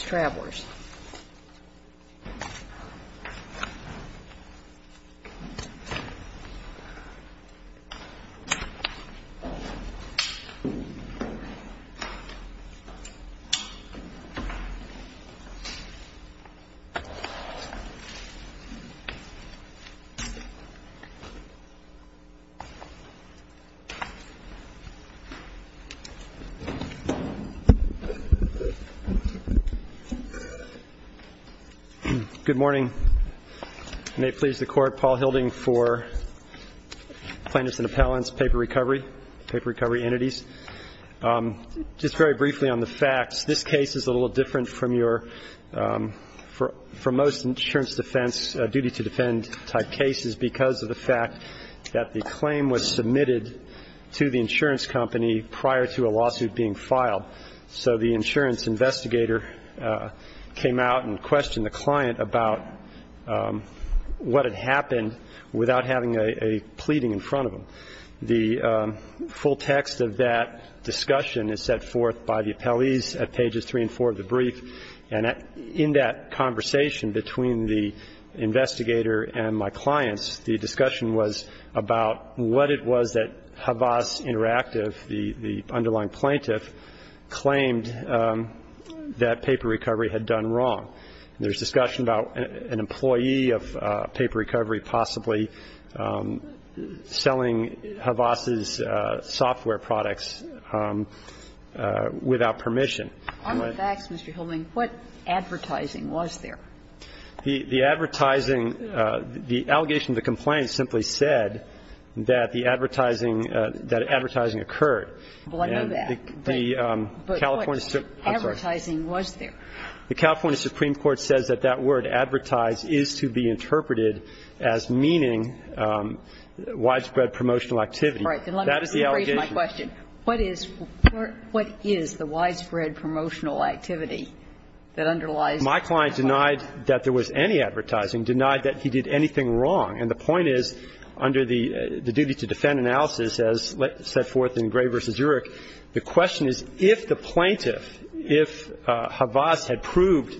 Travelers Good morning. May it please the Court, Paul Hilding for Plaintiffs and Appellants, Paper Recovery, Paper Recovery Entities. Just very briefly on the facts, this case is a little different from most insurance defense, duty to defend type cases because of the fact that the claim was submitted to the insurance company prior to a lawsuit being filed. So the insurance investigator came out and questioned the client about what had happened without having a pleading in front of him. The full text of that discussion is set forth by the appellees at pages 3 and 4 of the brief. And in that conversation between the investigator and my clients, the discussion was about what it was that Havas Interactive, the underlying plaintiff, claimed that Paper Recovery had done wrong. There's discussion about an employee of Paper Recovery possibly selling Havas's software products without permission. I want to ask, Mr. Hilding, what advertising was there? The advertising, the allegation of the complaint simply said that the advertising occurred. Well, I know that. But what advertising was there? The California Supreme Court says that that word, advertise, is to be interpreted as meaning widespread promotional activity. Right. That is the allegation. My question, what is the widespread promotional activity that underlies the claim? My client denied that there was any advertising, denied that he did anything wrong. And the point is, under the duty to defend analysis, as set forth in Gray v. Urick, the question is, if the plaintiff, if Havas had proved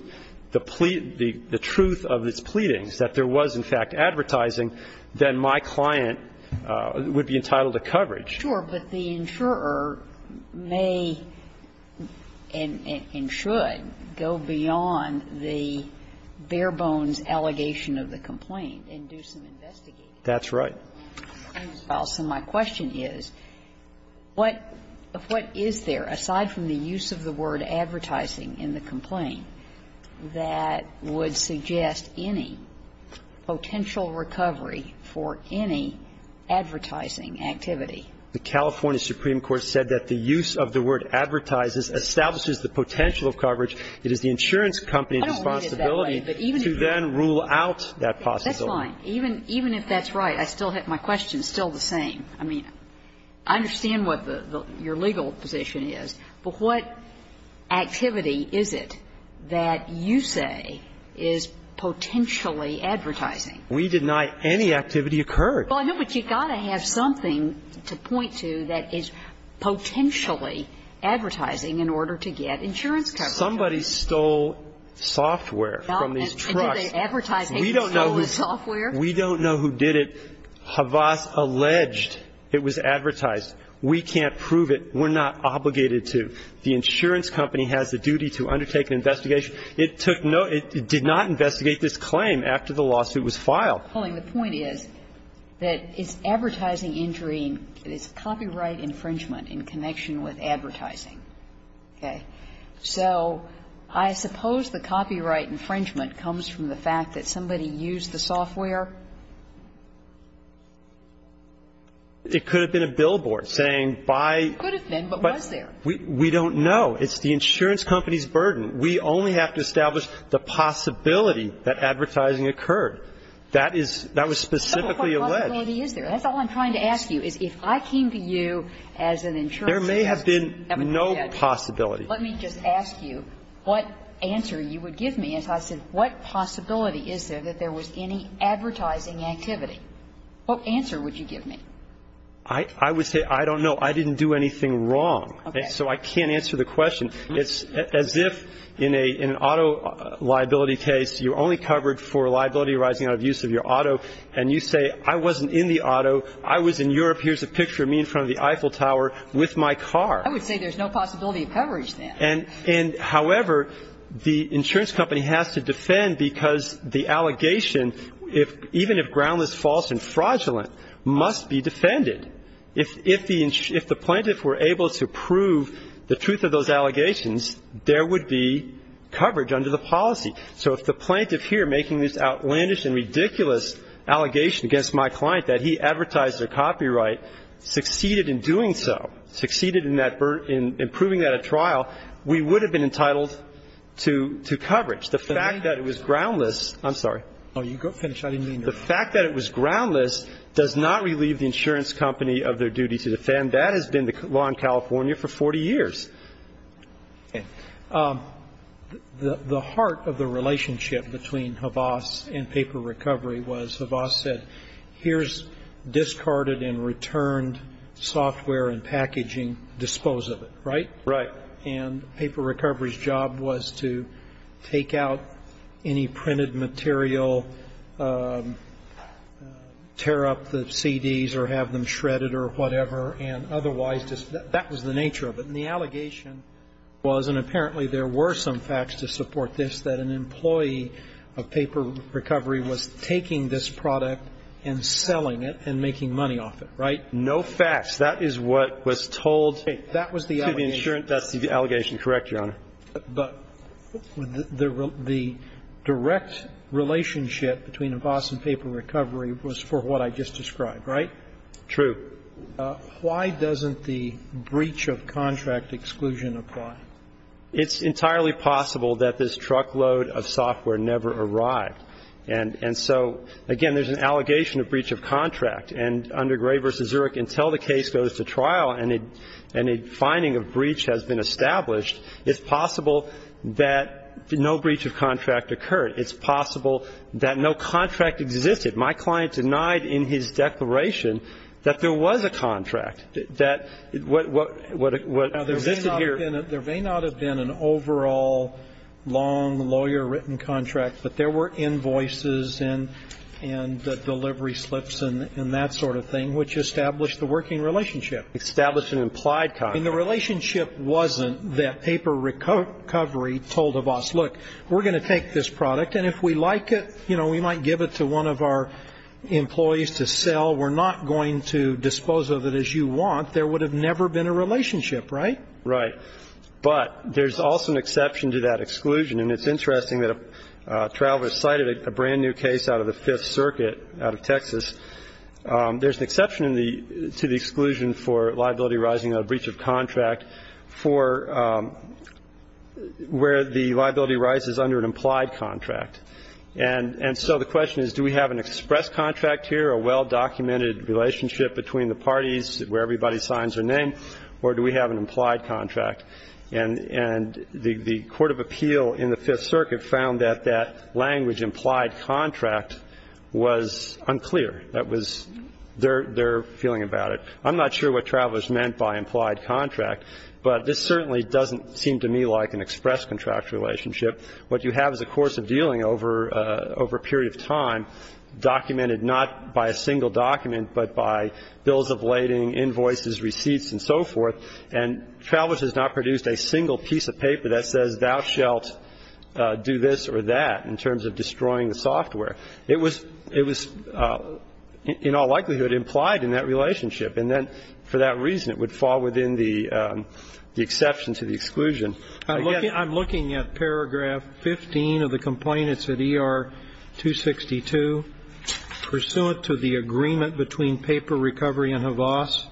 the truth of its pleadings, that there was, in fact, advertising, then my client would be entitled to coverage. Sure. But the insurer may and should go beyond the bare-bones allegation of the complaint and do some investigating. That's right. So my question is, what is there, aside from the use of the word advertising in the complaint, that would suggest any potential recovery for any advertising activity? The California Supreme Court said that the use of the word advertises establishes the potential of coverage. It is the insurance company's responsibility to then rule out that possibility. I don't mean it that way. That's fine. Even if that's right, my question is still the same. I mean, I understand what your legal position is, but what activity is it that you say is potentially advertising? We deny any activity occurred. Well, I know, but you've got to have something to point to that is potentially advertising in order to get insurance coverage. Somebody stole software from these trucks. Advertising. We don't know who stole the software. We don't know who did it. Havas alleged it was advertised. We can't prove it. We're not obligated to. The insurance company has the duty to undertake an investigation. It took no – it did not investigate this claim after the lawsuit was filed. Well, and the point is that it's advertising injury and it's copyright infringement in connection with advertising. Okay? So I suppose the copyright infringement comes from the fact that somebody used the software? It could have been a billboard saying by – It could have been, but was there? We don't know. It's the insurance company's burden. We only have to establish the possibility that advertising occurred. That is – that was specifically alleged. What possibility is there? That's all I'm trying to ask you, is if I came to you as an insurance company – There may have been no possibility. Let me just ask you what answer you would give me if I said what possibility is there that there was any advertising activity? What answer would you give me? I would say I don't know. I didn't do anything wrong. Okay. So I can't answer the question. It's as if in an auto liability case, you're only covered for liability arising out of use of your auto, and you say I wasn't in the auto. I was in Europe. Here's a picture of me in front of the Eiffel Tower with my car. I would say there's no possibility of coverage then. And, however, the insurance company has to defend because the allegation, even if groundless, false and fraudulent, must be defended. If the plaintiff were able to prove the truth of those allegations, there would be coverage under the policy. So if the plaintiff here, making this outlandish and ridiculous allegation against my client that he advertised their copyright, succeeded in doing so, succeeded in improving that at trial, we would have been entitled to coverage. The fact that it was groundless – I'm sorry. Oh, you go finish. I didn't mean to interrupt. The fact that it was groundless does not relieve the insurance company of their duty to defend. That has been the law in California for 40 years. Okay. The heart of the relationship between Havas and Paper Recovery was Havas said here's discarded and returned software and packaging. Dispose of it, right? Right. And Paper Recovery's job was to take out any printed material, tear up the CDs or have them shredded or whatever. And otherwise, that was the nature of it. And the allegation was, and apparently there were some facts to support this, that an employee of Paper Recovery was taking this product and selling it and making money off it, right? No facts. That is what was told to the insurance company. I believe the allegation is correct, Your Honor. But the direct relationship between Havas and Paper Recovery was for what I just described, right? True. Why doesn't the breach of contract exclusion apply? It's entirely possible that this truckload of software never arrived. And so, again, there's an allegation of breach of contract. And under Gray v. Zurich, until the case goes to trial and a finding of breach has been established, it's possible that no breach of contract occurred. It's possible that no contract existed. My client denied in his declaration that there was a contract, that what existed here Now, there may not have been an overall long lawyer-written contract, but there were invoices and delivery slips and that sort of thing, which established the working relationship. Established an implied contract. I mean, the relationship wasn't that Paper Recovery told Havas, look, we're going to take this product, and if we like it, you know, we might give it to one of our employees to sell. We're not going to dispose of it as you want. There would have never been a relationship, right? Right. But there's also an exception to that exclusion. And it's interesting that Travis cited a brand-new case out of the Fifth Circuit out of Texas. There's an exception to the exclusion for liability arising out of breach of contract for where the liability arises under an implied contract. And so the question is, do we have an express contract here, a well-documented relationship between the parties where everybody signs their name, or do we have an implied contract? And the court of appeal in the Fifth Circuit found that that language, implied contract, was unclear. That was their feeling about it. I'm not sure what Travis meant by implied contract, but this certainly doesn't seem to me like an express contract relationship. What you have is a course of dealing over a period of time documented not by a single document, but by bills of lading, invoices, receipts, and so forth. And Travis has not produced a single piece of paper that says thou shalt do this or that in terms of destroying the software. It was in all likelihood implied in that relationship. And then for that reason, it would fall within the exception to the exclusion. Again, I'm looking at paragraph 15 of the complaint. It's at ER-262. Pursuant to the agreement between Paper Recovery and Havas,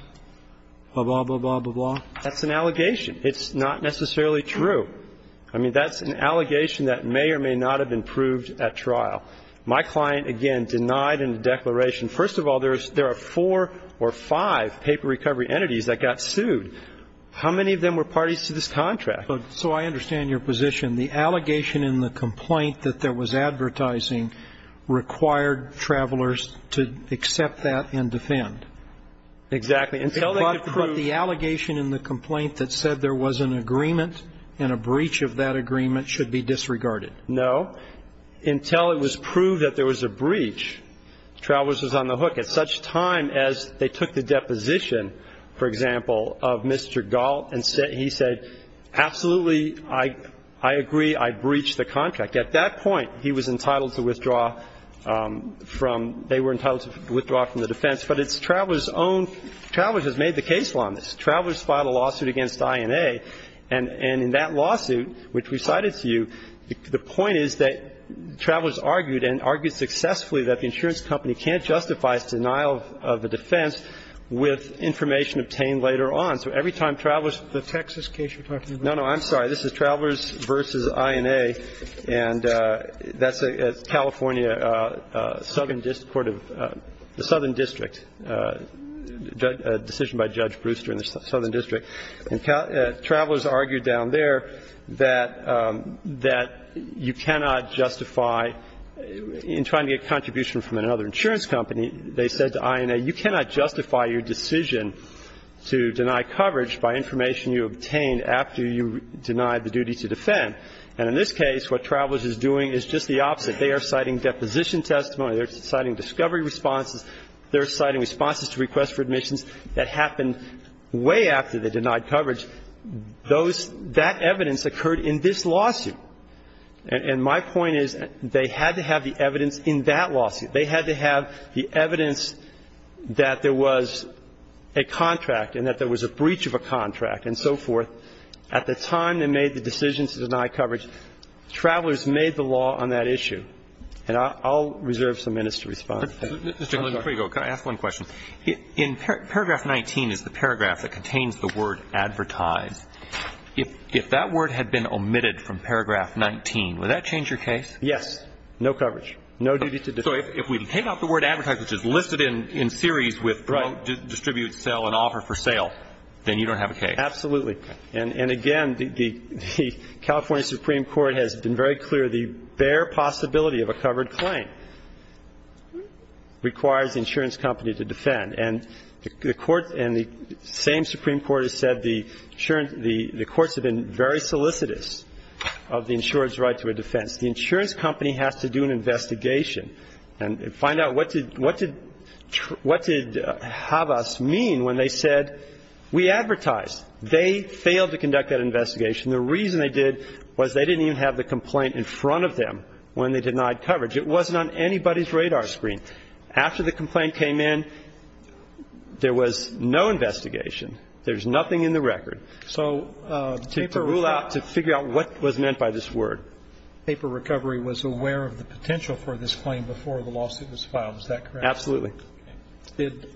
blah, blah, blah, blah, blah. That's an allegation. It's not necessarily true. I mean, that's an allegation that may or may not have been proved at trial. My client, again, denied in the declaration. First of all, there are four or five Paper Recovery entities that got sued. How many of them were parties to this contract? So I understand your position. The allegation in the complaint that there was advertising required travelers to accept that and defend. Exactly. Until they could prove. But the allegation in the complaint that said there was an agreement and a breach of that agreement should be disregarded. No. Until it was proved that there was a breach, Travelers was on the hook. At such time as they took the deposition, for example, of Mr. Galt and he said, absolutely, I agree, I breach the contract. At that point, he was entitled to withdraw from the defense. But it's Travelers' own. Travelers has made the case law on this. Travelers filed a lawsuit against INA. And in that lawsuit, which we cited to you, the point is that Travelers argued and argued successfully that the insurance company can't justify its denial of a defense with information obtained later on. So every time Travelers. The Texas case you're talking about. No, no. I'm sorry. This is Travelers v. INA. And that's a California Southern District Court of the Southern District, a decision by Judge Brewster in the Southern District. And Travelers argued down there that you cannot justify, in trying to get a contribution from another insurance company, they said to INA, you cannot justify your decision to deny coverage by information you obtained after you denied the duty to defend. And in this case, what Travelers is doing is just the opposite. They are citing deposition testimony. They're citing discovery responses. They're citing responses to requests for admissions that happened way after they denied coverage. Those – that evidence occurred in this lawsuit. And my point is they had to have the evidence in that lawsuit. They had to have the evidence that there was a contract and that there was a breach of a contract and so forth. At the time they made the decision to deny coverage, Travelers made the law on that issue. And I'll reserve some minutes to respond. Mr. Clement, before you go, can I ask one question? In paragraph 19 is the paragraph that contains the word advertise. If that word had been omitted from paragraph 19, would that change your case? Yes. No coverage. No duty to defend. So if we take out the word advertise, which is listed in series with distribute, sell, and offer for sale, then you don't have a case. Absolutely. And again, the California Supreme Court has been very clear. The bare possibility of a covered claim requires the insurance company to defend. And the Court – and the same Supreme Court has said the insurance – the courts have been very solicitous of the insurer's right to a defense. The insurance company has to do an investigation and find out what did – what did have us mean when they said we advertise. They failed to conduct that investigation. The reason they did was they didn't even have the complaint in front of them when they denied coverage. It wasn't on anybody's radar screen. After the complaint came in, there was no investigation. There's nothing in the record. So the paper – To rule out – to figure out what was meant by this word. Paper recovery was aware of the potential for this claim before the lawsuit was filed. Is that correct? Absolutely. Did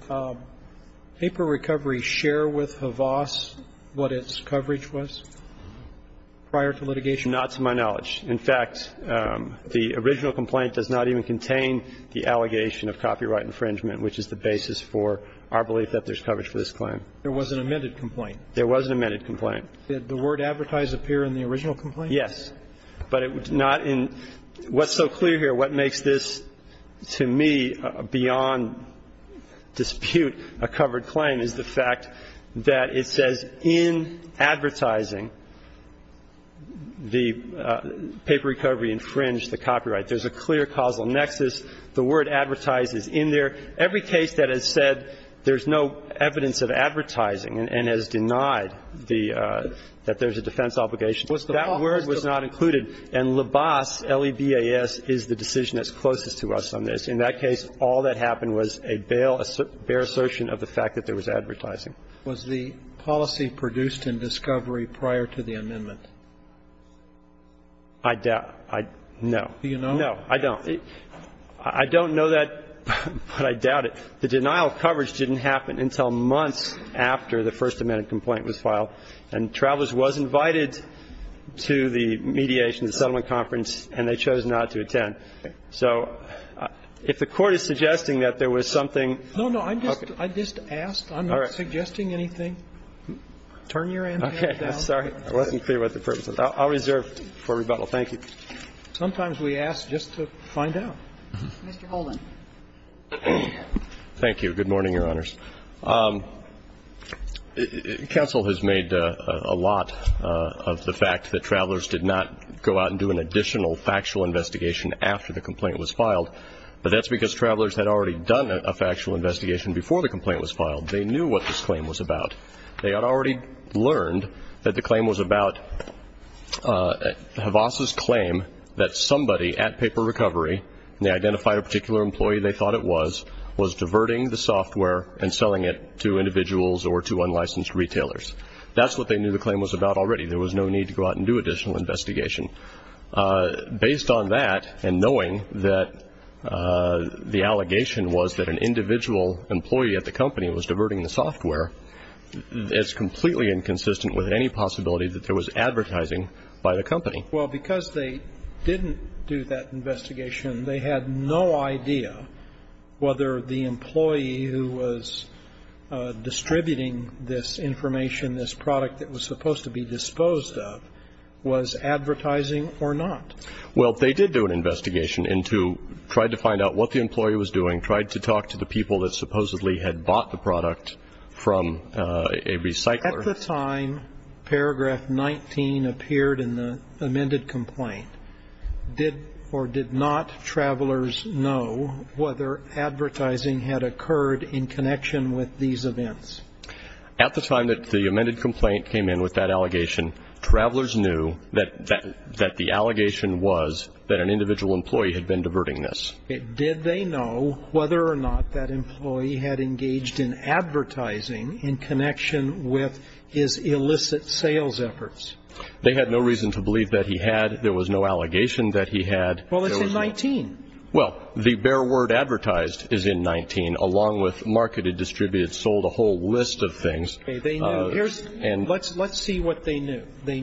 paper recovery share with Havas what its coverage was prior to litigation? Not to my knowledge. In fact, the original complaint does not even contain the allegation of copyright infringement, which is the basis for our belief that there's coverage for this claim. There was an amended complaint. There was an amended complaint. Did the word advertise appear in the original complaint? Yes. But it was not in – what's so clear here, what makes this, to me, beyond dispute, a covered claim, is the fact that it says in advertising the paper recovery infringed the copyright. There's a clear causal nexus. The word advertise is in there. Every case that has said there's no evidence of advertising and has denied the – that there's a defense obligation, that word was not included. And LABAS, L-E-B-A-S, is the decision that's closest to us on this. In that case, all that happened was a bail, a bare assertion of the fact that there was advertising. Was the policy produced in discovery prior to the amendment? I doubt. I – no. Do you know? No, I don't. I don't know that, but I doubt it. The denial of coverage didn't happen until months after the First Amendment complaint was filed. And Travelers was invited to the mediation, the settlement conference, and they chose not to attend. So if the Court is suggesting that there was something – No, no. I just – I just asked. I'm not suggesting anything. Turn your antennas down. Okay. Sorry. I wasn't clear what the purpose was. I'll reserve for rebuttal. Thank you. Sometimes we ask just to find out. Mr. Holden. Thank you. Good morning, Your Honors. Counsel has made a lot of the fact that Travelers did not go out and do an additional factual investigation after the complaint was filed. But that's because Travelers had already done a factual investigation before the complaint was filed. They knew what this claim was about. They had already learned that the claim was about HVASA's claim that somebody at Paper Recovery, and they identified a particular employee they thought it was, was diverting the software and selling it to individuals or to unlicensed retailers. That's what they knew the claim was about already. There was no need to go out and do additional investigation. Based on that, and knowing that the allegation was that an individual employee at the company was diverting the software, it's completely inconsistent with any possibility that there was advertising by the company. Well, because they didn't do that investigation, they had no idea whether the employee who was distributing this information, this product that was supposed to be disposed of, was advertising or not. Well, they did do an investigation into, tried to find out what the employee was doing, tried to talk to the people that supposedly had bought the product from a recycler. At the time paragraph 19 appeared in the amended complaint, did or did not travelers know whether advertising had occurred in connection with these events? At the time that the amended complaint came in with that allegation, travelers knew that the allegation was that an individual employee had been diverting this. Did they know whether or not that employee had engaged in advertising in connection with his illicit sales efforts? They had no reason to believe that he had. There was no allegation that he had. Well, it's in 19. Well, the bare word advertised is in 19, along with marketed, distributed, sold a whole list of things. They knew. Let's see what they knew. They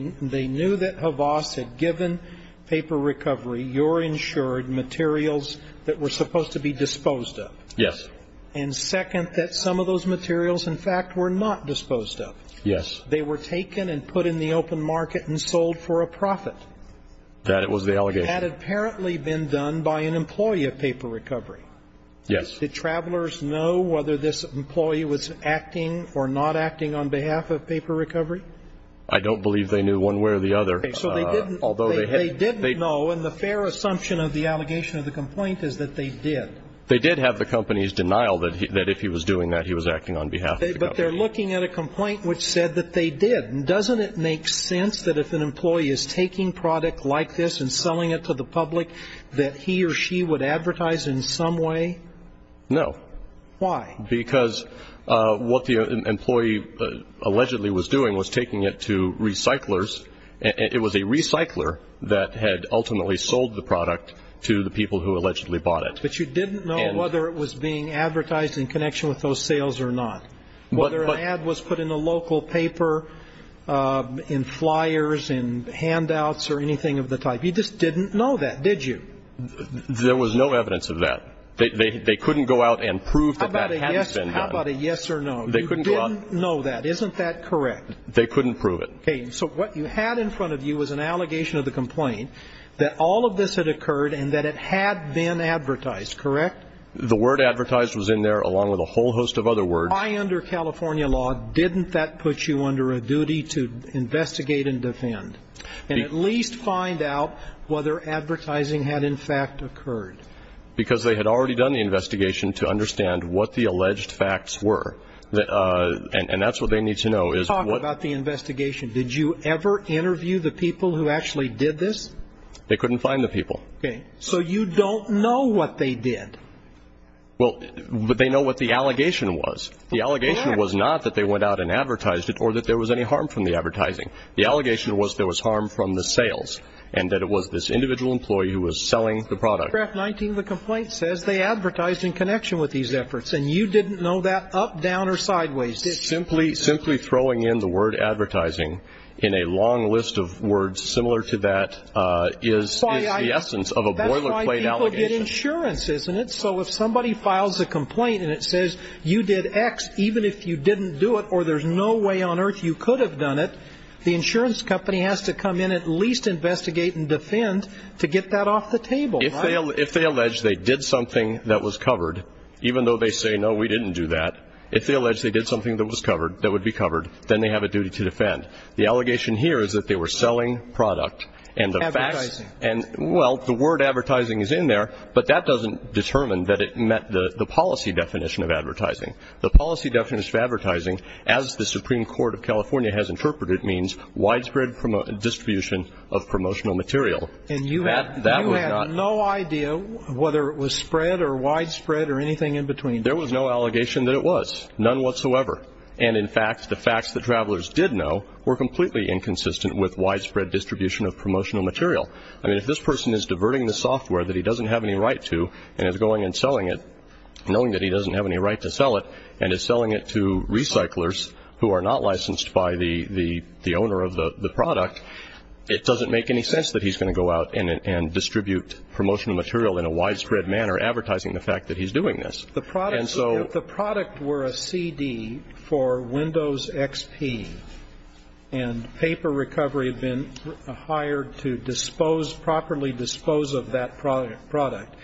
knew that Havas had given paper recovery, your insured materials, that were supposed to be disposed of. Yes. And second, that some of those materials, in fact, were not disposed of. Yes. They were taken and put in the open market and sold for a profit. That was the allegation. That had apparently been done by an employee of paper recovery. Yes. Did travelers know whether this employee was acting or not acting on behalf of paper recovery? I don't believe they knew one way or the other. Okay. So they didn't know, and the fair assumption of the allegation of the complaint is that they did. They did have the company's denial that if he was doing that, he was acting on behalf of the company. But they're looking at a complaint which said that they did. Doesn't it make sense that if an employee is taking product like this and selling it to the public that he or she would advertise in some way? No. Why? Because what the employee allegedly was doing was taking it to recyclers. It was a recycler that had ultimately sold the product to the people who allegedly bought it. But you didn't know whether it was being advertised in connection with those sales or not, whether an ad was put in a local paper, in flyers, in handouts, or anything of the type. You just didn't know that, did you? There was no evidence of that. They couldn't go out and prove that that had been done. How about a yes or no? You didn't know that. Isn't that correct? They couldn't prove it. Okay. So what you had in front of you was an allegation of the complaint that all of this had occurred and that it had been advertised, correct? The word advertised was in there along with a whole host of other words. Why under California law didn't that put you under a duty to investigate and defend and at least find out whether advertising had in fact occurred? Because they had already done the investigation to understand what the alleged facts were. And that's what they need to know. Talk about the investigation. Did you ever interview the people who actually did this? They couldn't find the people. Okay. So you don't know what they did. Well, they know what the allegation was. The allegation was not that they went out and advertised it or that there was any harm from the advertising. The allegation was there was harm from the sales and that it was this individual employee who was selling the product. In paragraph 19 of the complaint it says they advertised in connection with these efforts, and you didn't know that up, down, or sideways, did you? Simply throwing in the word advertising in a long list of words similar to that is the essence of a boilerplate allegation. That's why people get insurance, isn't it? So if somebody files a complaint and it says you did X, even if you didn't do it or there's no way on earth you could have done it, the insurance company has to come in at least to investigate and defend to get that off the table. If they allege they did something that was covered, even though they say, no, we didn't do that, if they allege they did something that was covered, that would be covered, then they have a duty to defend. The allegation here is that they were selling product and the facts. Advertising. Well, the word advertising is in there, but that doesn't determine that it met the policy definition of advertising. The policy definition of advertising, as the Supreme Court of California has interpreted, means widespread distribution of promotional material. And you had no idea whether it was spread or widespread or anything in between? There was no allegation that it was, none whatsoever. And, in fact, the facts that travelers did know were completely inconsistent with widespread distribution of promotional material. I mean, if this person is diverting the software that he doesn't have any right to and is going and selling it, knowing that he doesn't have any right to sell it and is selling it to recyclers who are not licensed by the owner of the product, it doesn't make any sense that he's going to go out and distribute promotional material in a widespread manner, advertising the fact that he's doing this. And so the product were a CD for Windows XP and paper recovery had been hired to dispose, properly dispose of that product.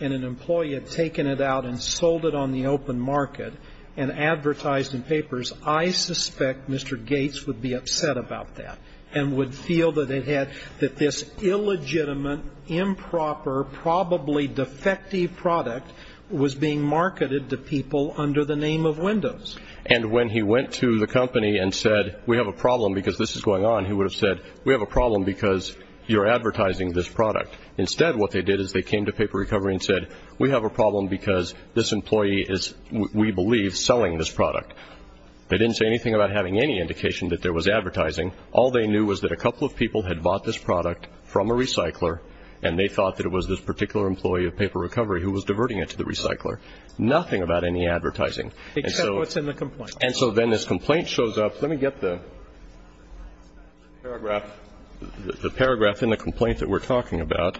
And an employee had taken it out and sold it on the open market and advertised in papers. I suspect Mr. Gates would be upset about that and would feel that it had, that this illegitimate, improper, probably defective product was being marketed to people under the name of Windows. And when he went to the company and said, we have a problem because this is going on, he would have said, we have a problem because you're advertising this product. Instead, what they did is they came to paper recovery and said, we have a problem because this employee is, we believe, selling this product. They didn't say anything about having any indication that there was advertising. All they knew was that a couple of people had bought this product from a recycler and they thought that it was this particular employee of paper recovery who was diverting it to the recycler. Nothing about any advertising. Except what's in the complaint. And so then this complaint shows up. Let me get the paragraph in the complaint that we're talking about.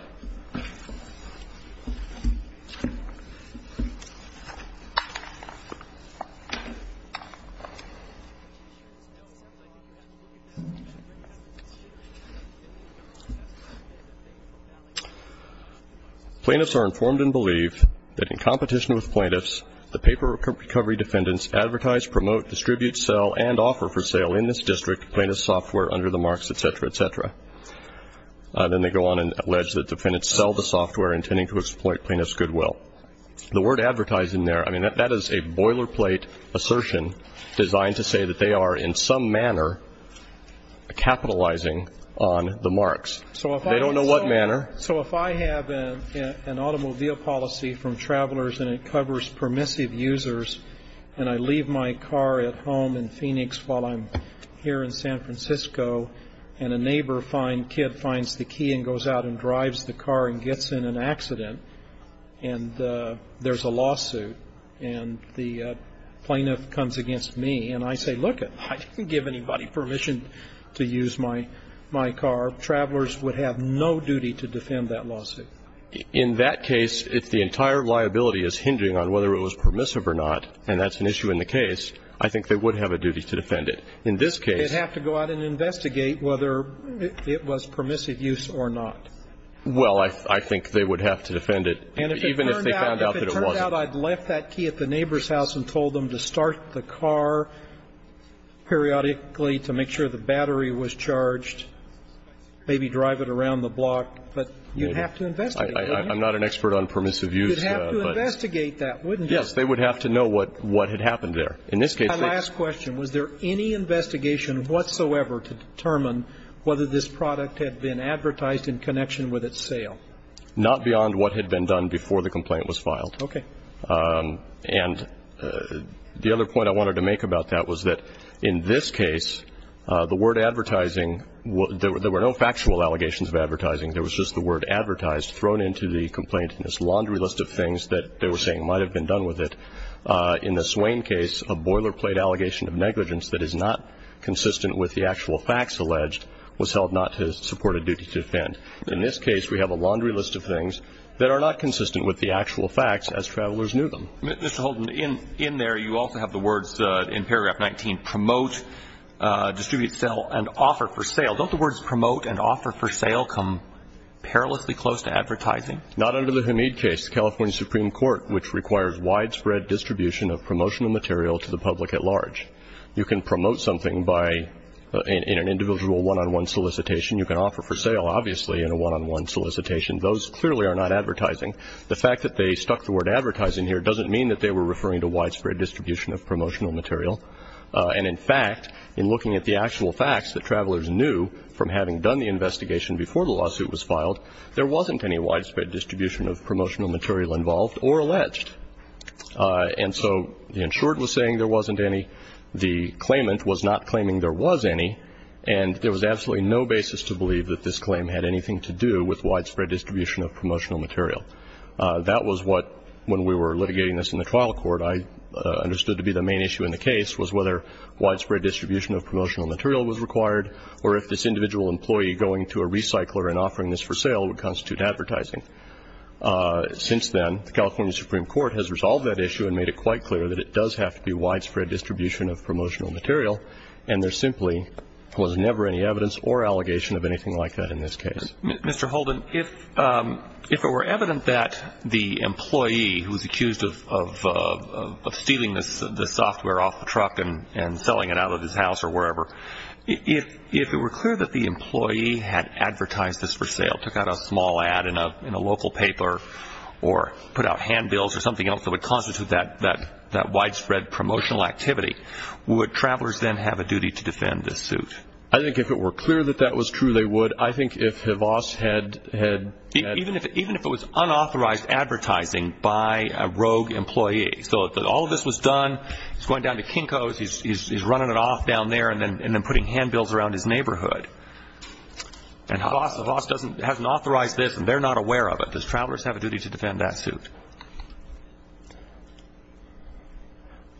Plaintiffs are informed and believe that in competition with plaintiffs, the paper recovery defendants advertise, promote, distribute, sell, and offer for sale in this district plaintiff's software under the marks, et cetera, et cetera. Then they go on and allege that defendants sell the software intending to exploit plaintiff's goodwill. The word advertising there, I mean, that is a boilerplate assertion designed to say that they are in some manner capitalizing on the marks. They don't know what manner. So if I have an automobile policy from Travelers and it covers permissive users and I leave my car at home in Phoenix while I'm here in San Francisco and a neighbor kid finds the key and goes out and drives the car and gets in an accident and there's a lawsuit and the plaintiff comes against me and I say, look, I didn't give anybody permission to use my car. Travelers would have no duty to defend that lawsuit. In that case, if the entire liability is hindering on whether it was permissive or not and that's an issue in the case, I think they would have a duty to defend it. In this case they'd have to go out and investigate whether it was permissive use or not. Well, I think they would have to defend it even if they found out that it wasn't. If it turned out I'd left that key at the neighbor's house and told them to start the car periodically to make sure the battery was charged, maybe drive it around the block, but you'd have to investigate. I'm not an expert on permissive use. You'd have to investigate that, wouldn't you? Yes. They would have to know what had happened there. My last question. Was there any investigation whatsoever to determine whether this product had been advertised in connection with its sale? Not beyond what had been done before the complaint was filed. Okay. And the other point I wanted to make about that was that in this case the word advertising, there were no factual allegations of advertising. There was just the word advertised thrown into the complaint in this laundry list of things that they were saying might have been done with it. In the Swain case, a boilerplate allegation of negligence that is not consistent with the actual facts alleged was held not to support a duty to defend. In this case we have a laundry list of things that are not consistent with the actual facts as travelers knew them. Mr. Holden, in there you also have the words in paragraph 19, promote, distribute, sell, and offer for sale. Don't the words promote and offer for sale come perilously close to advertising? Not under the Hamid case. The California Supreme Court, which requires widespread distribution of promotional material to the public at large. You can promote something in an individual one-on-one solicitation. You can offer for sale, obviously, in a one-on-one solicitation. Those clearly are not advertising. The fact that they stuck the word advertising here doesn't mean that they were referring to widespread distribution of promotional material. And, in fact, in looking at the actual facts that travelers knew from having done the investigation before the lawsuit was filed, there wasn't any widespread distribution of promotional material involved or alleged. And so the insured was saying there wasn't any. The claimant was not claiming there was any. And there was absolutely no basis to believe that this claim had anything to do with widespread distribution of promotional material. That was what, when we were litigating this in the trial court, I understood to be the main issue in the case was whether widespread distribution of promotional material was required or if this individual employee going to a recycler and offering this for sale would constitute advertising. Since then, the California Supreme Court has resolved that issue and made it quite clear that it does have to be widespread distribution of promotional material, and there simply was never any evidence or allegation of anything like that in this case. Mr. Holden, if it were evident that the employee who was accused of stealing the software off the truck and selling it out of his house or wherever, if it were clear that the employee had advertised this for sale, took out a small ad in a local paper or put out handbills or something else that would constitute that widespread promotional activity, would travelers then have a duty to defend this suit? I think if it were clear that that was true, they would. I think if Havas had... Even if it was unauthorized advertising by a rogue employee, so if all of this was done, he's going down to Kinko's, he's running it off down there and then putting handbills around his neighborhood, and Havas hasn't authorized this and they're not aware of it, does travelers have a duty to defend that suit?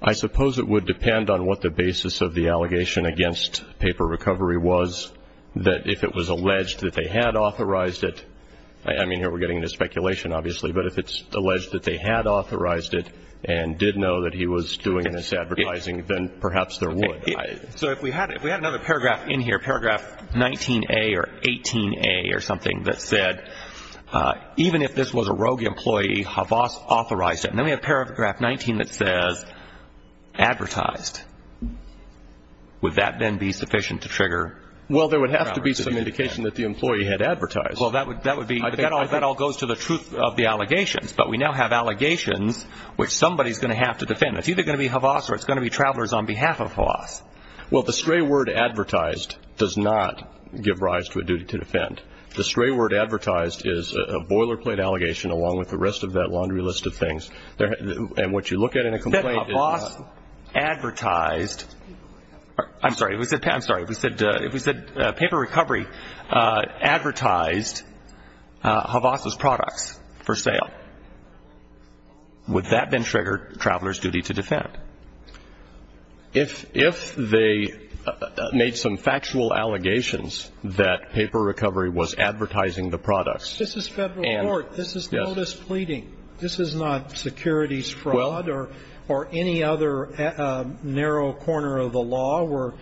I suppose it would depend on what the basis of the allegation against paper recovery was that if it was alleged that they had authorized it, I mean here we're getting into speculation obviously, but if it's alleged that they had authorized it and did know that he was doing this advertising, then perhaps there would. So if we had another paragraph in here, paragraph 19A or 18A or something that said even if this was a rogue employee, Havas authorized it, and then we have paragraph 19 that says advertised, would that then be sufficient to trigger... Well, there would have to be some indication that the employee had advertised. Well, that would be... That all goes to the truth of the allegations, but we now have allegations which somebody is going to have to defend. It's either going to be Havas or it's going to be travelers on behalf of Havas. Well, the stray word advertised does not give rise to a duty to defend. The stray word advertised is a boilerplate allegation along with the rest of that laundry list of things. And what you look at in a complaint is... If they said Havas advertised, I'm sorry, if we said paper recovery advertised Havas' products for sale, would that then trigger travelers' duty to defend? If they made some factual allegations that paper recovery was advertising the products... This is Federal court. This is notice pleading. This is not securities fraud or any other narrow corner of the law where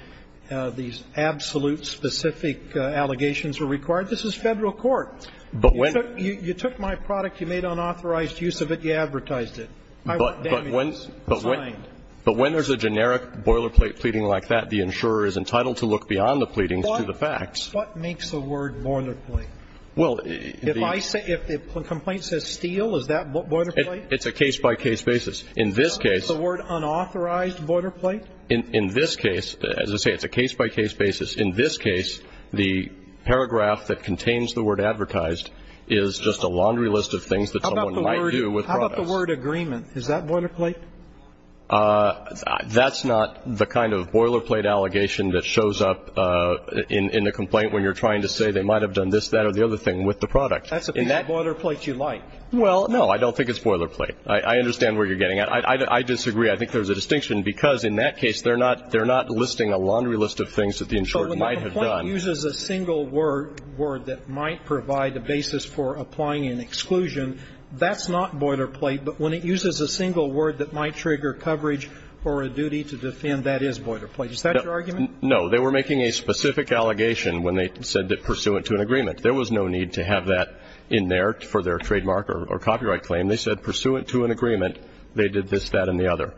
these absolute specific allegations are required. This is Federal court. But when... You took my product, you made unauthorized use of it, you advertised it. I want damages. But when there's a generic boilerplate pleading like that, the insurer is entitled to look beyond the pleadings to the facts. What makes the word boilerplate? If the complaint says steel, is that boilerplate? It's a case-by-case basis. In this case... Is the word unauthorized boilerplate? In this case, as I say, it's a case-by-case basis. In this case, the paragraph that contains the word advertised is just a laundry list of things that someone might do with products. How about the word agreement? Is that boilerplate? That's not the kind of boilerplate allegation that shows up in a complaint when you're saying I've done this, that, or the other thing with the product. That's a boilerplate you like. Well, no, I don't think it's boilerplate. I understand where you're getting at. I disagree. I think there's a distinction because in that case they're not listing a laundry list of things that the insurer might have done. So when the complaint uses a single word that might provide a basis for applying an exclusion, that's not boilerplate. But when it uses a single word that might trigger coverage for a duty to defend, that is boilerplate. Is that your argument? No. They were making a specific allegation when they said that pursuant to an agreement. There was no need to have that in there for their trademark or copyright claim. They said pursuant to an agreement, they did this, that, and the other.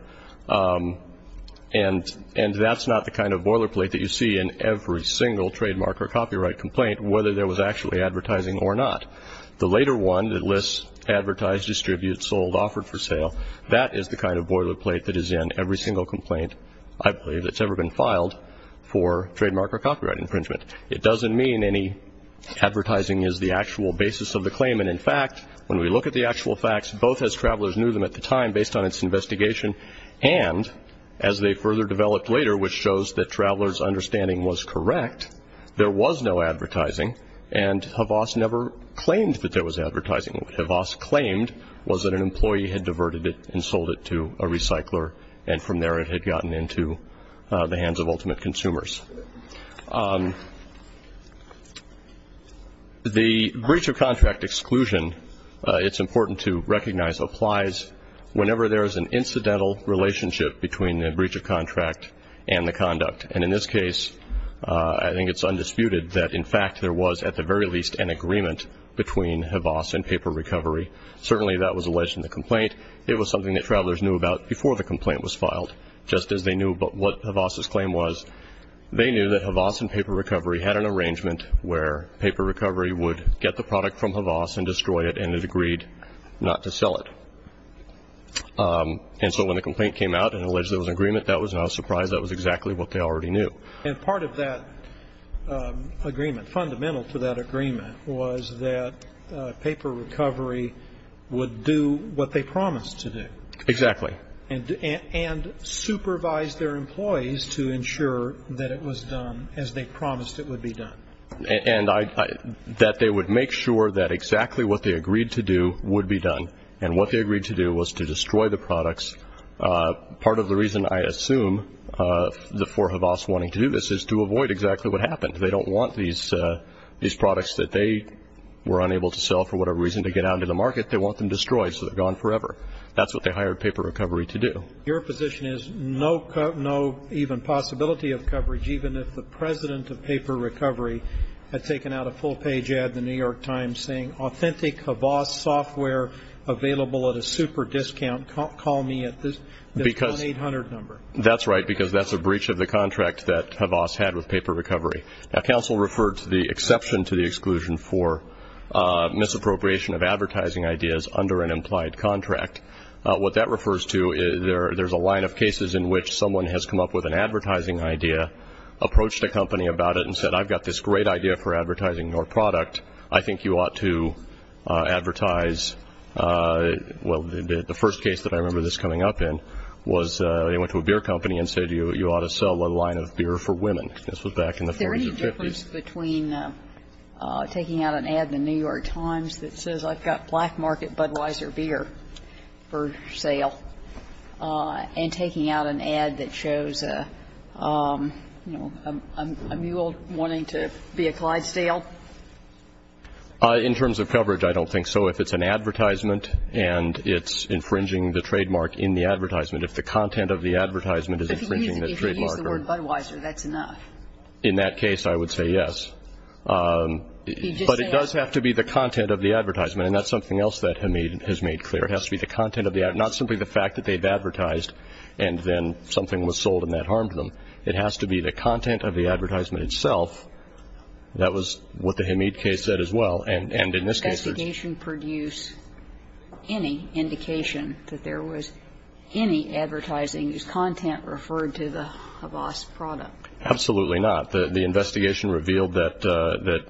And that's not the kind of boilerplate that you see in every single trademark or copyright complaint, whether there was actually advertising or not. The later one that lists advertised, distributed, sold, offered for sale, that is the kind of boilerplate that is in every single complaint, I believe, that's ever been filed for trademark or copyright infringement. It doesn't mean any advertising is the actual basis of the claim. And, in fact, when we look at the actual facts, both as travelers knew them at the time based on its investigation, and as they further developed later, which shows that travelers' understanding was correct, there was no advertising. And Havas never claimed that there was advertising. What Havas claimed was that an employee had diverted it and sold it to a the hands of ultimate consumers. The breach of contract exclusion, it's important to recognize, applies whenever there is an incidental relationship between the breach of contract and the conduct. And in this case, I think it's undisputed that, in fact, there was at the very least an agreement between Havas and Paper Recovery. Certainly that was alleged in the complaint. It was something that travelers knew about before the complaint was filed, just as they knew about what Havas' claim was. They knew that Havas and Paper Recovery had an arrangement where Paper Recovery would get the product from Havas and destroy it, and it agreed not to sell it. And so when the complaint came out and alleged there was an agreement, that was not a surprise. That was exactly what they already knew. And part of that agreement, fundamental to that agreement, was that Paper Recovery would do what they promised to do. Exactly. And supervise their employees to ensure that it was done as they promised it would be done. And that they would make sure that exactly what they agreed to do would be done. And what they agreed to do was to destroy the products. Part of the reason, I assume, for Havas wanting to do this is to avoid exactly what happened. They don't want these products that they were unable to sell for whatever reason to get out into the market. They want them destroyed so they're gone forever. That's what they hired Paper Recovery to do. Your position is no even possibility of coverage, even if the president of Paper Recovery had taken out a full-page ad in the New York Times saying, authentic Havas software available at a super discount, call me at this 1-800 number. That's right, because that's a breach of the contract that Havas had with Paper Recovery. Now, counsel referred to the exception to the exclusion for misappropriation of advertising ideas under an implied contract. What that refers to is there's a line of cases in which someone has come up with an advertising idea, approached a company about it, and said, I've got this great idea for advertising your product. I think you ought to advertise. Well, the first case that I remember this coming up in was they went to a beer company and said, you ought to sell a line of beer for women. This was back in the 40s and 50s. The difference between taking out an ad in the New York Times that says I've got Black Market Budweiser beer for sale and taking out an ad that shows, you know, a mule wanting to be a Clydesdale? In terms of coverage, I don't think so. If it's an advertisement and it's infringing the trademark in the advertisement, if the content of the advertisement is infringing the trademark. If they use the word Budweiser, that's enough. In that case, I would say yes. But it does have to be the content of the advertisement, and that's something else that Hamid has made clear. It has to be the content of the ad, not simply the fact that they've advertised and then something was sold and that harmed them. It has to be the content of the advertisement itself. That was what the Hamid case said as well. And in this case, there's… Did the investigation produce any indication that there was any advertising content referred to the Habas product? Absolutely not. The investigation revealed that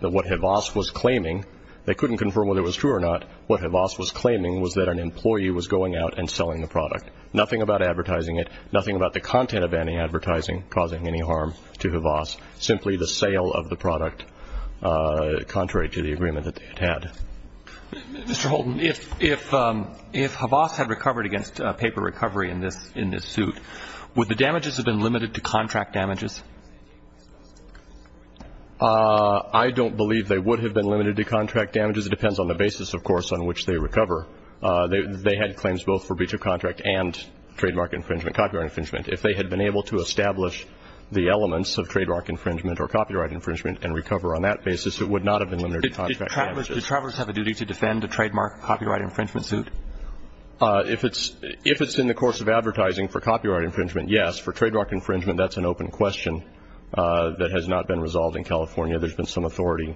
what Habas was claiming, they couldn't confirm whether it was true or not, what Habas was claiming was that an employee was going out and selling the product. Nothing about advertising it, nothing about the content of any advertising causing any harm to Habas, simply the sale of the product contrary to the agreement that they had. Mr. Holden, if Habas had recovered against paper recovery in this suit, would the damages have been limited to contract damages? I don't believe they would have been limited to contract damages. It depends on the basis, of course, on which they recover. They had claims both for breach of contract and trademark infringement, copyright infringement. If they had been able to establish the elements of trademark infringement or copyright infringement and recover on that basis, it would not have been limited to contract damages. Do travelers have a duty to defend a trademark copyright infringement suit? If it's in the course of advertising for copyright infringement, yes. For trademark infringement, that's an open question that has not been resolved in California. There's been some authority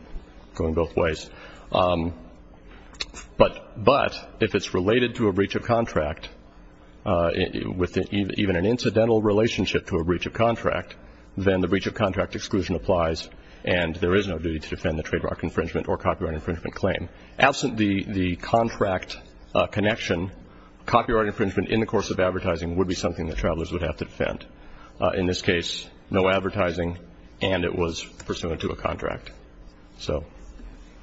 going both ways. But if it's related to a breach of contract, with even an incidental relationship to a breach of contract, then the breach of contract exclusion applies and there is no duty to defend the trademark infringement or copyright infringement claim. Absent the contract connection, copyright infringement in the course of advertising would be something that travelers would have to defend. In this case, no advertising and it was pursuant to a contract. So,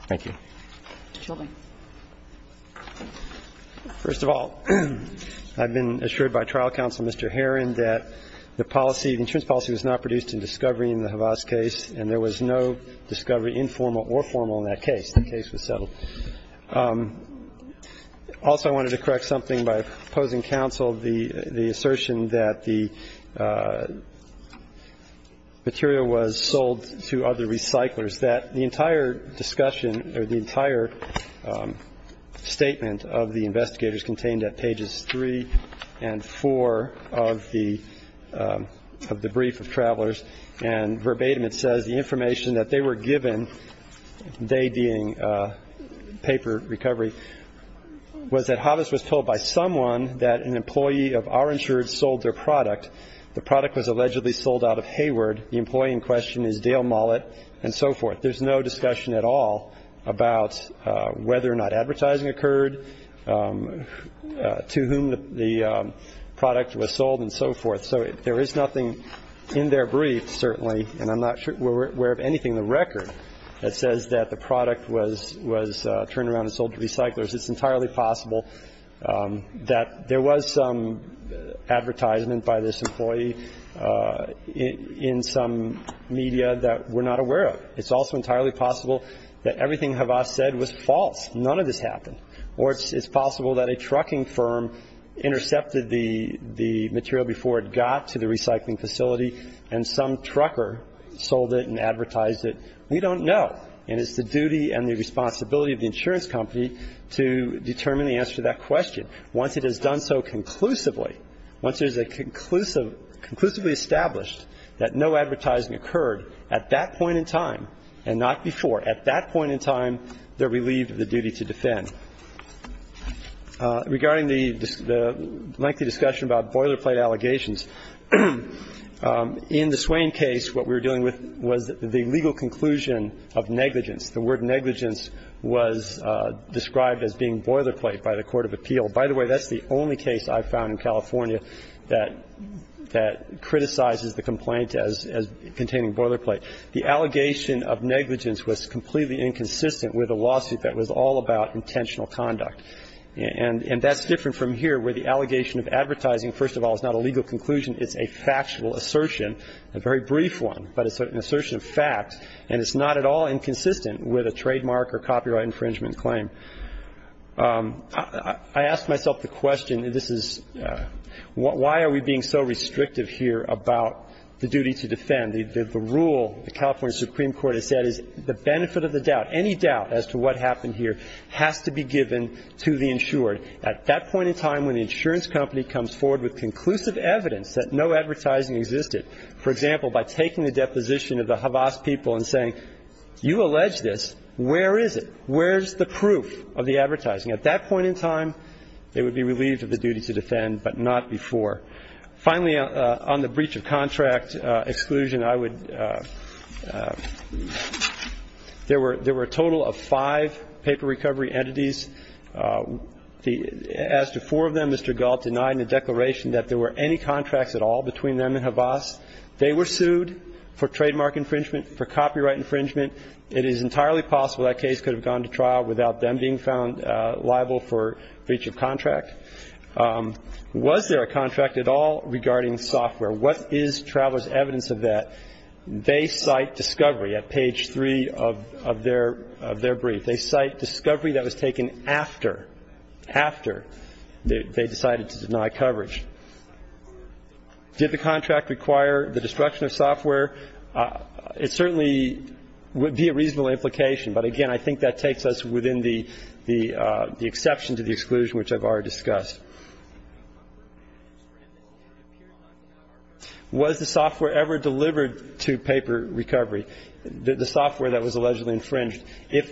thank you. Mr. Chauvin. First of all, I've been assured by trial counsel, Mr. Herron, that the policy, the insurance policy was not produced in discovery in the Havas case and there was no discovery, informal or formal, in that case. The case was settled. Also, I wanted to correct something by opposing counsel, the assertion that the material was sold to other recyclers, that the entire discussion or the entire statement of the investigators contained at pages 3 and 4 of the brief of travelers and verbatim it says the information that they were given, they being paper recovery, was that Havas was told by someone that an employee of our insurance sold their product. The product was allegedly sold out of Hayward. The employee in question is Dale Mullet and so forth. There's no discussion at all about whether or not advertising occurred, to whom the product was sold and so forth. So there is nothing in their brief, certainly, and I'm not aware of anything in the record that says that the product was turned around and sold to recyclers. It's entirely possible that there was some advertisement by this employee in some media that we're not aware of. It's also entirely possible that everything Havas said was false. None of this happened. Or it's possible that a trucking firm intercepted the material before it got to the recycling facility and some trucker sold it and advertised it. We don't know. And it's the duty and the responsibility of the insurance company to determine the answer to that question. Once it is done so conclusively, once it is conclusively established that no advertising occurred at that point in time and not before, at that point in time, they're relieved of the duty to defend. Regarding the lengthy discussion about boilerplate allegations, in the Swain case what we were dealing with was the legal conclusion of negligence. The word negligence was described as being boilerplate by the court of appeal. By the way, that's the only case I found in California that criticizes the complaint as containing boilerplate. The allegation of negligence was completely inconsistent with a lawsuit that was all about intentional conduct. And that's different from here where the allegation of advertising, first of all, is not a legal conclusion. It's a factual assertion, a very brief one, but it's an assertion of fact. And it's not at all inconsistent with a trademark or copyright infringement claim. I asked myself the question, this is, why are we being so restrictive here about the duty to defend? The rule the California Supreme Court has said is the benefit of the doubt, any doubt as to what happened here has to be given to the insured. At that point in time when the insurance company comes forward with conclusive evidence that no advertising existed, for example, by taking the deposition of the Havas people and saying, you allege this, where is it? Where's the proof of the advertising? At that point in time, they would be relieved of the duty to defend, but not before. Finally, on the breach of contract exclusion, I would, there were a total of five paper recovery entities. As to four of them, Mr. Galt denied in the declaration that there were any contracts at all between them and Havas. They were sued for trademark infringement, for copyright infringement. It is entirely possible that case could have gone to trial without them being found liable for breach of contract. Was there a contract at all regarding software? What is travelers' evidence of that? They cite discovery at page three of their brief. They cite discovery that was taken after, after they decided to deny coverage. Did the contract require the destruction of software? And I think that takes us within the exception to the exclusion, which I've already discussed. Was the software ever delivered to paper recovery, the software that was allegedly infringed? If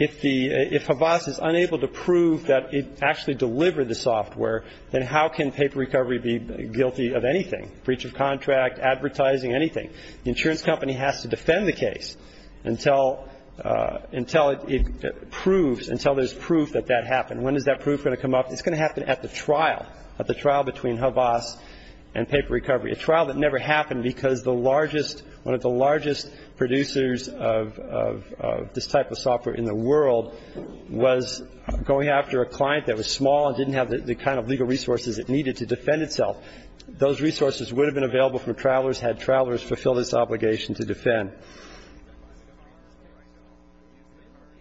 Havas is unable to prove that it actually delivered the software, then how can paper recovery be guilty of anything, breach of contract, advertising, anything? The insurance company has to defend the case until, until it proves, until there's proof that that happened. When is that proof going to come up? It's going to happen at the trial, at the trial between Havas and paper recovery, a trial that never happened because the largest, one of the largest producers of this type of software in the world was going after a client that was small and didn't have the kind of legal resources it needed to defend itself. Those resources would have been available for travelers had travelers fulfilled this obligation to defend.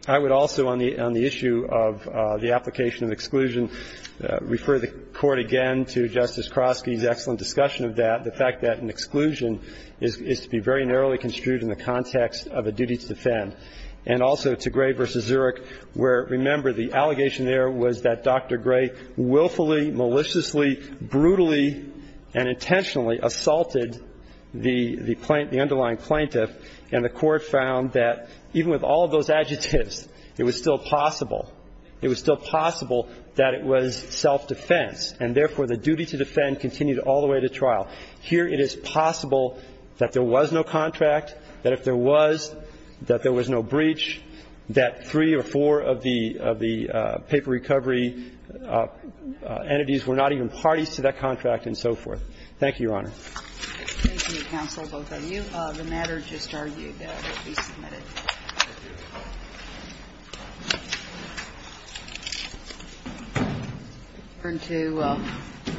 I would also, on the issue of the application of exclusion, refer the Court again to Justice Kroski's excellent discussion of that, the fact that an exclusion is to be very narrowly construed in the context of a duty to defend, and also to Gray v. Zurich, where, remember, the allegation there was that Dr. Gray willfully, maliciously, brutally, and intentionally assaulted the, the plaintiff, the underlying plaintiff, and the Court found that even with all of those adjectives, it was still possible, it was still possible that it was self-defense, and therefore the duty to defend continued all the way to trial. Here it is possible that there was no contract, that if there was, that there was no breach, that three or four of the, of the paper recovery entities were not even parties to that contract and so forth. Thank you, Your Honor. Thank you, Counsel. Both of you. Thank you.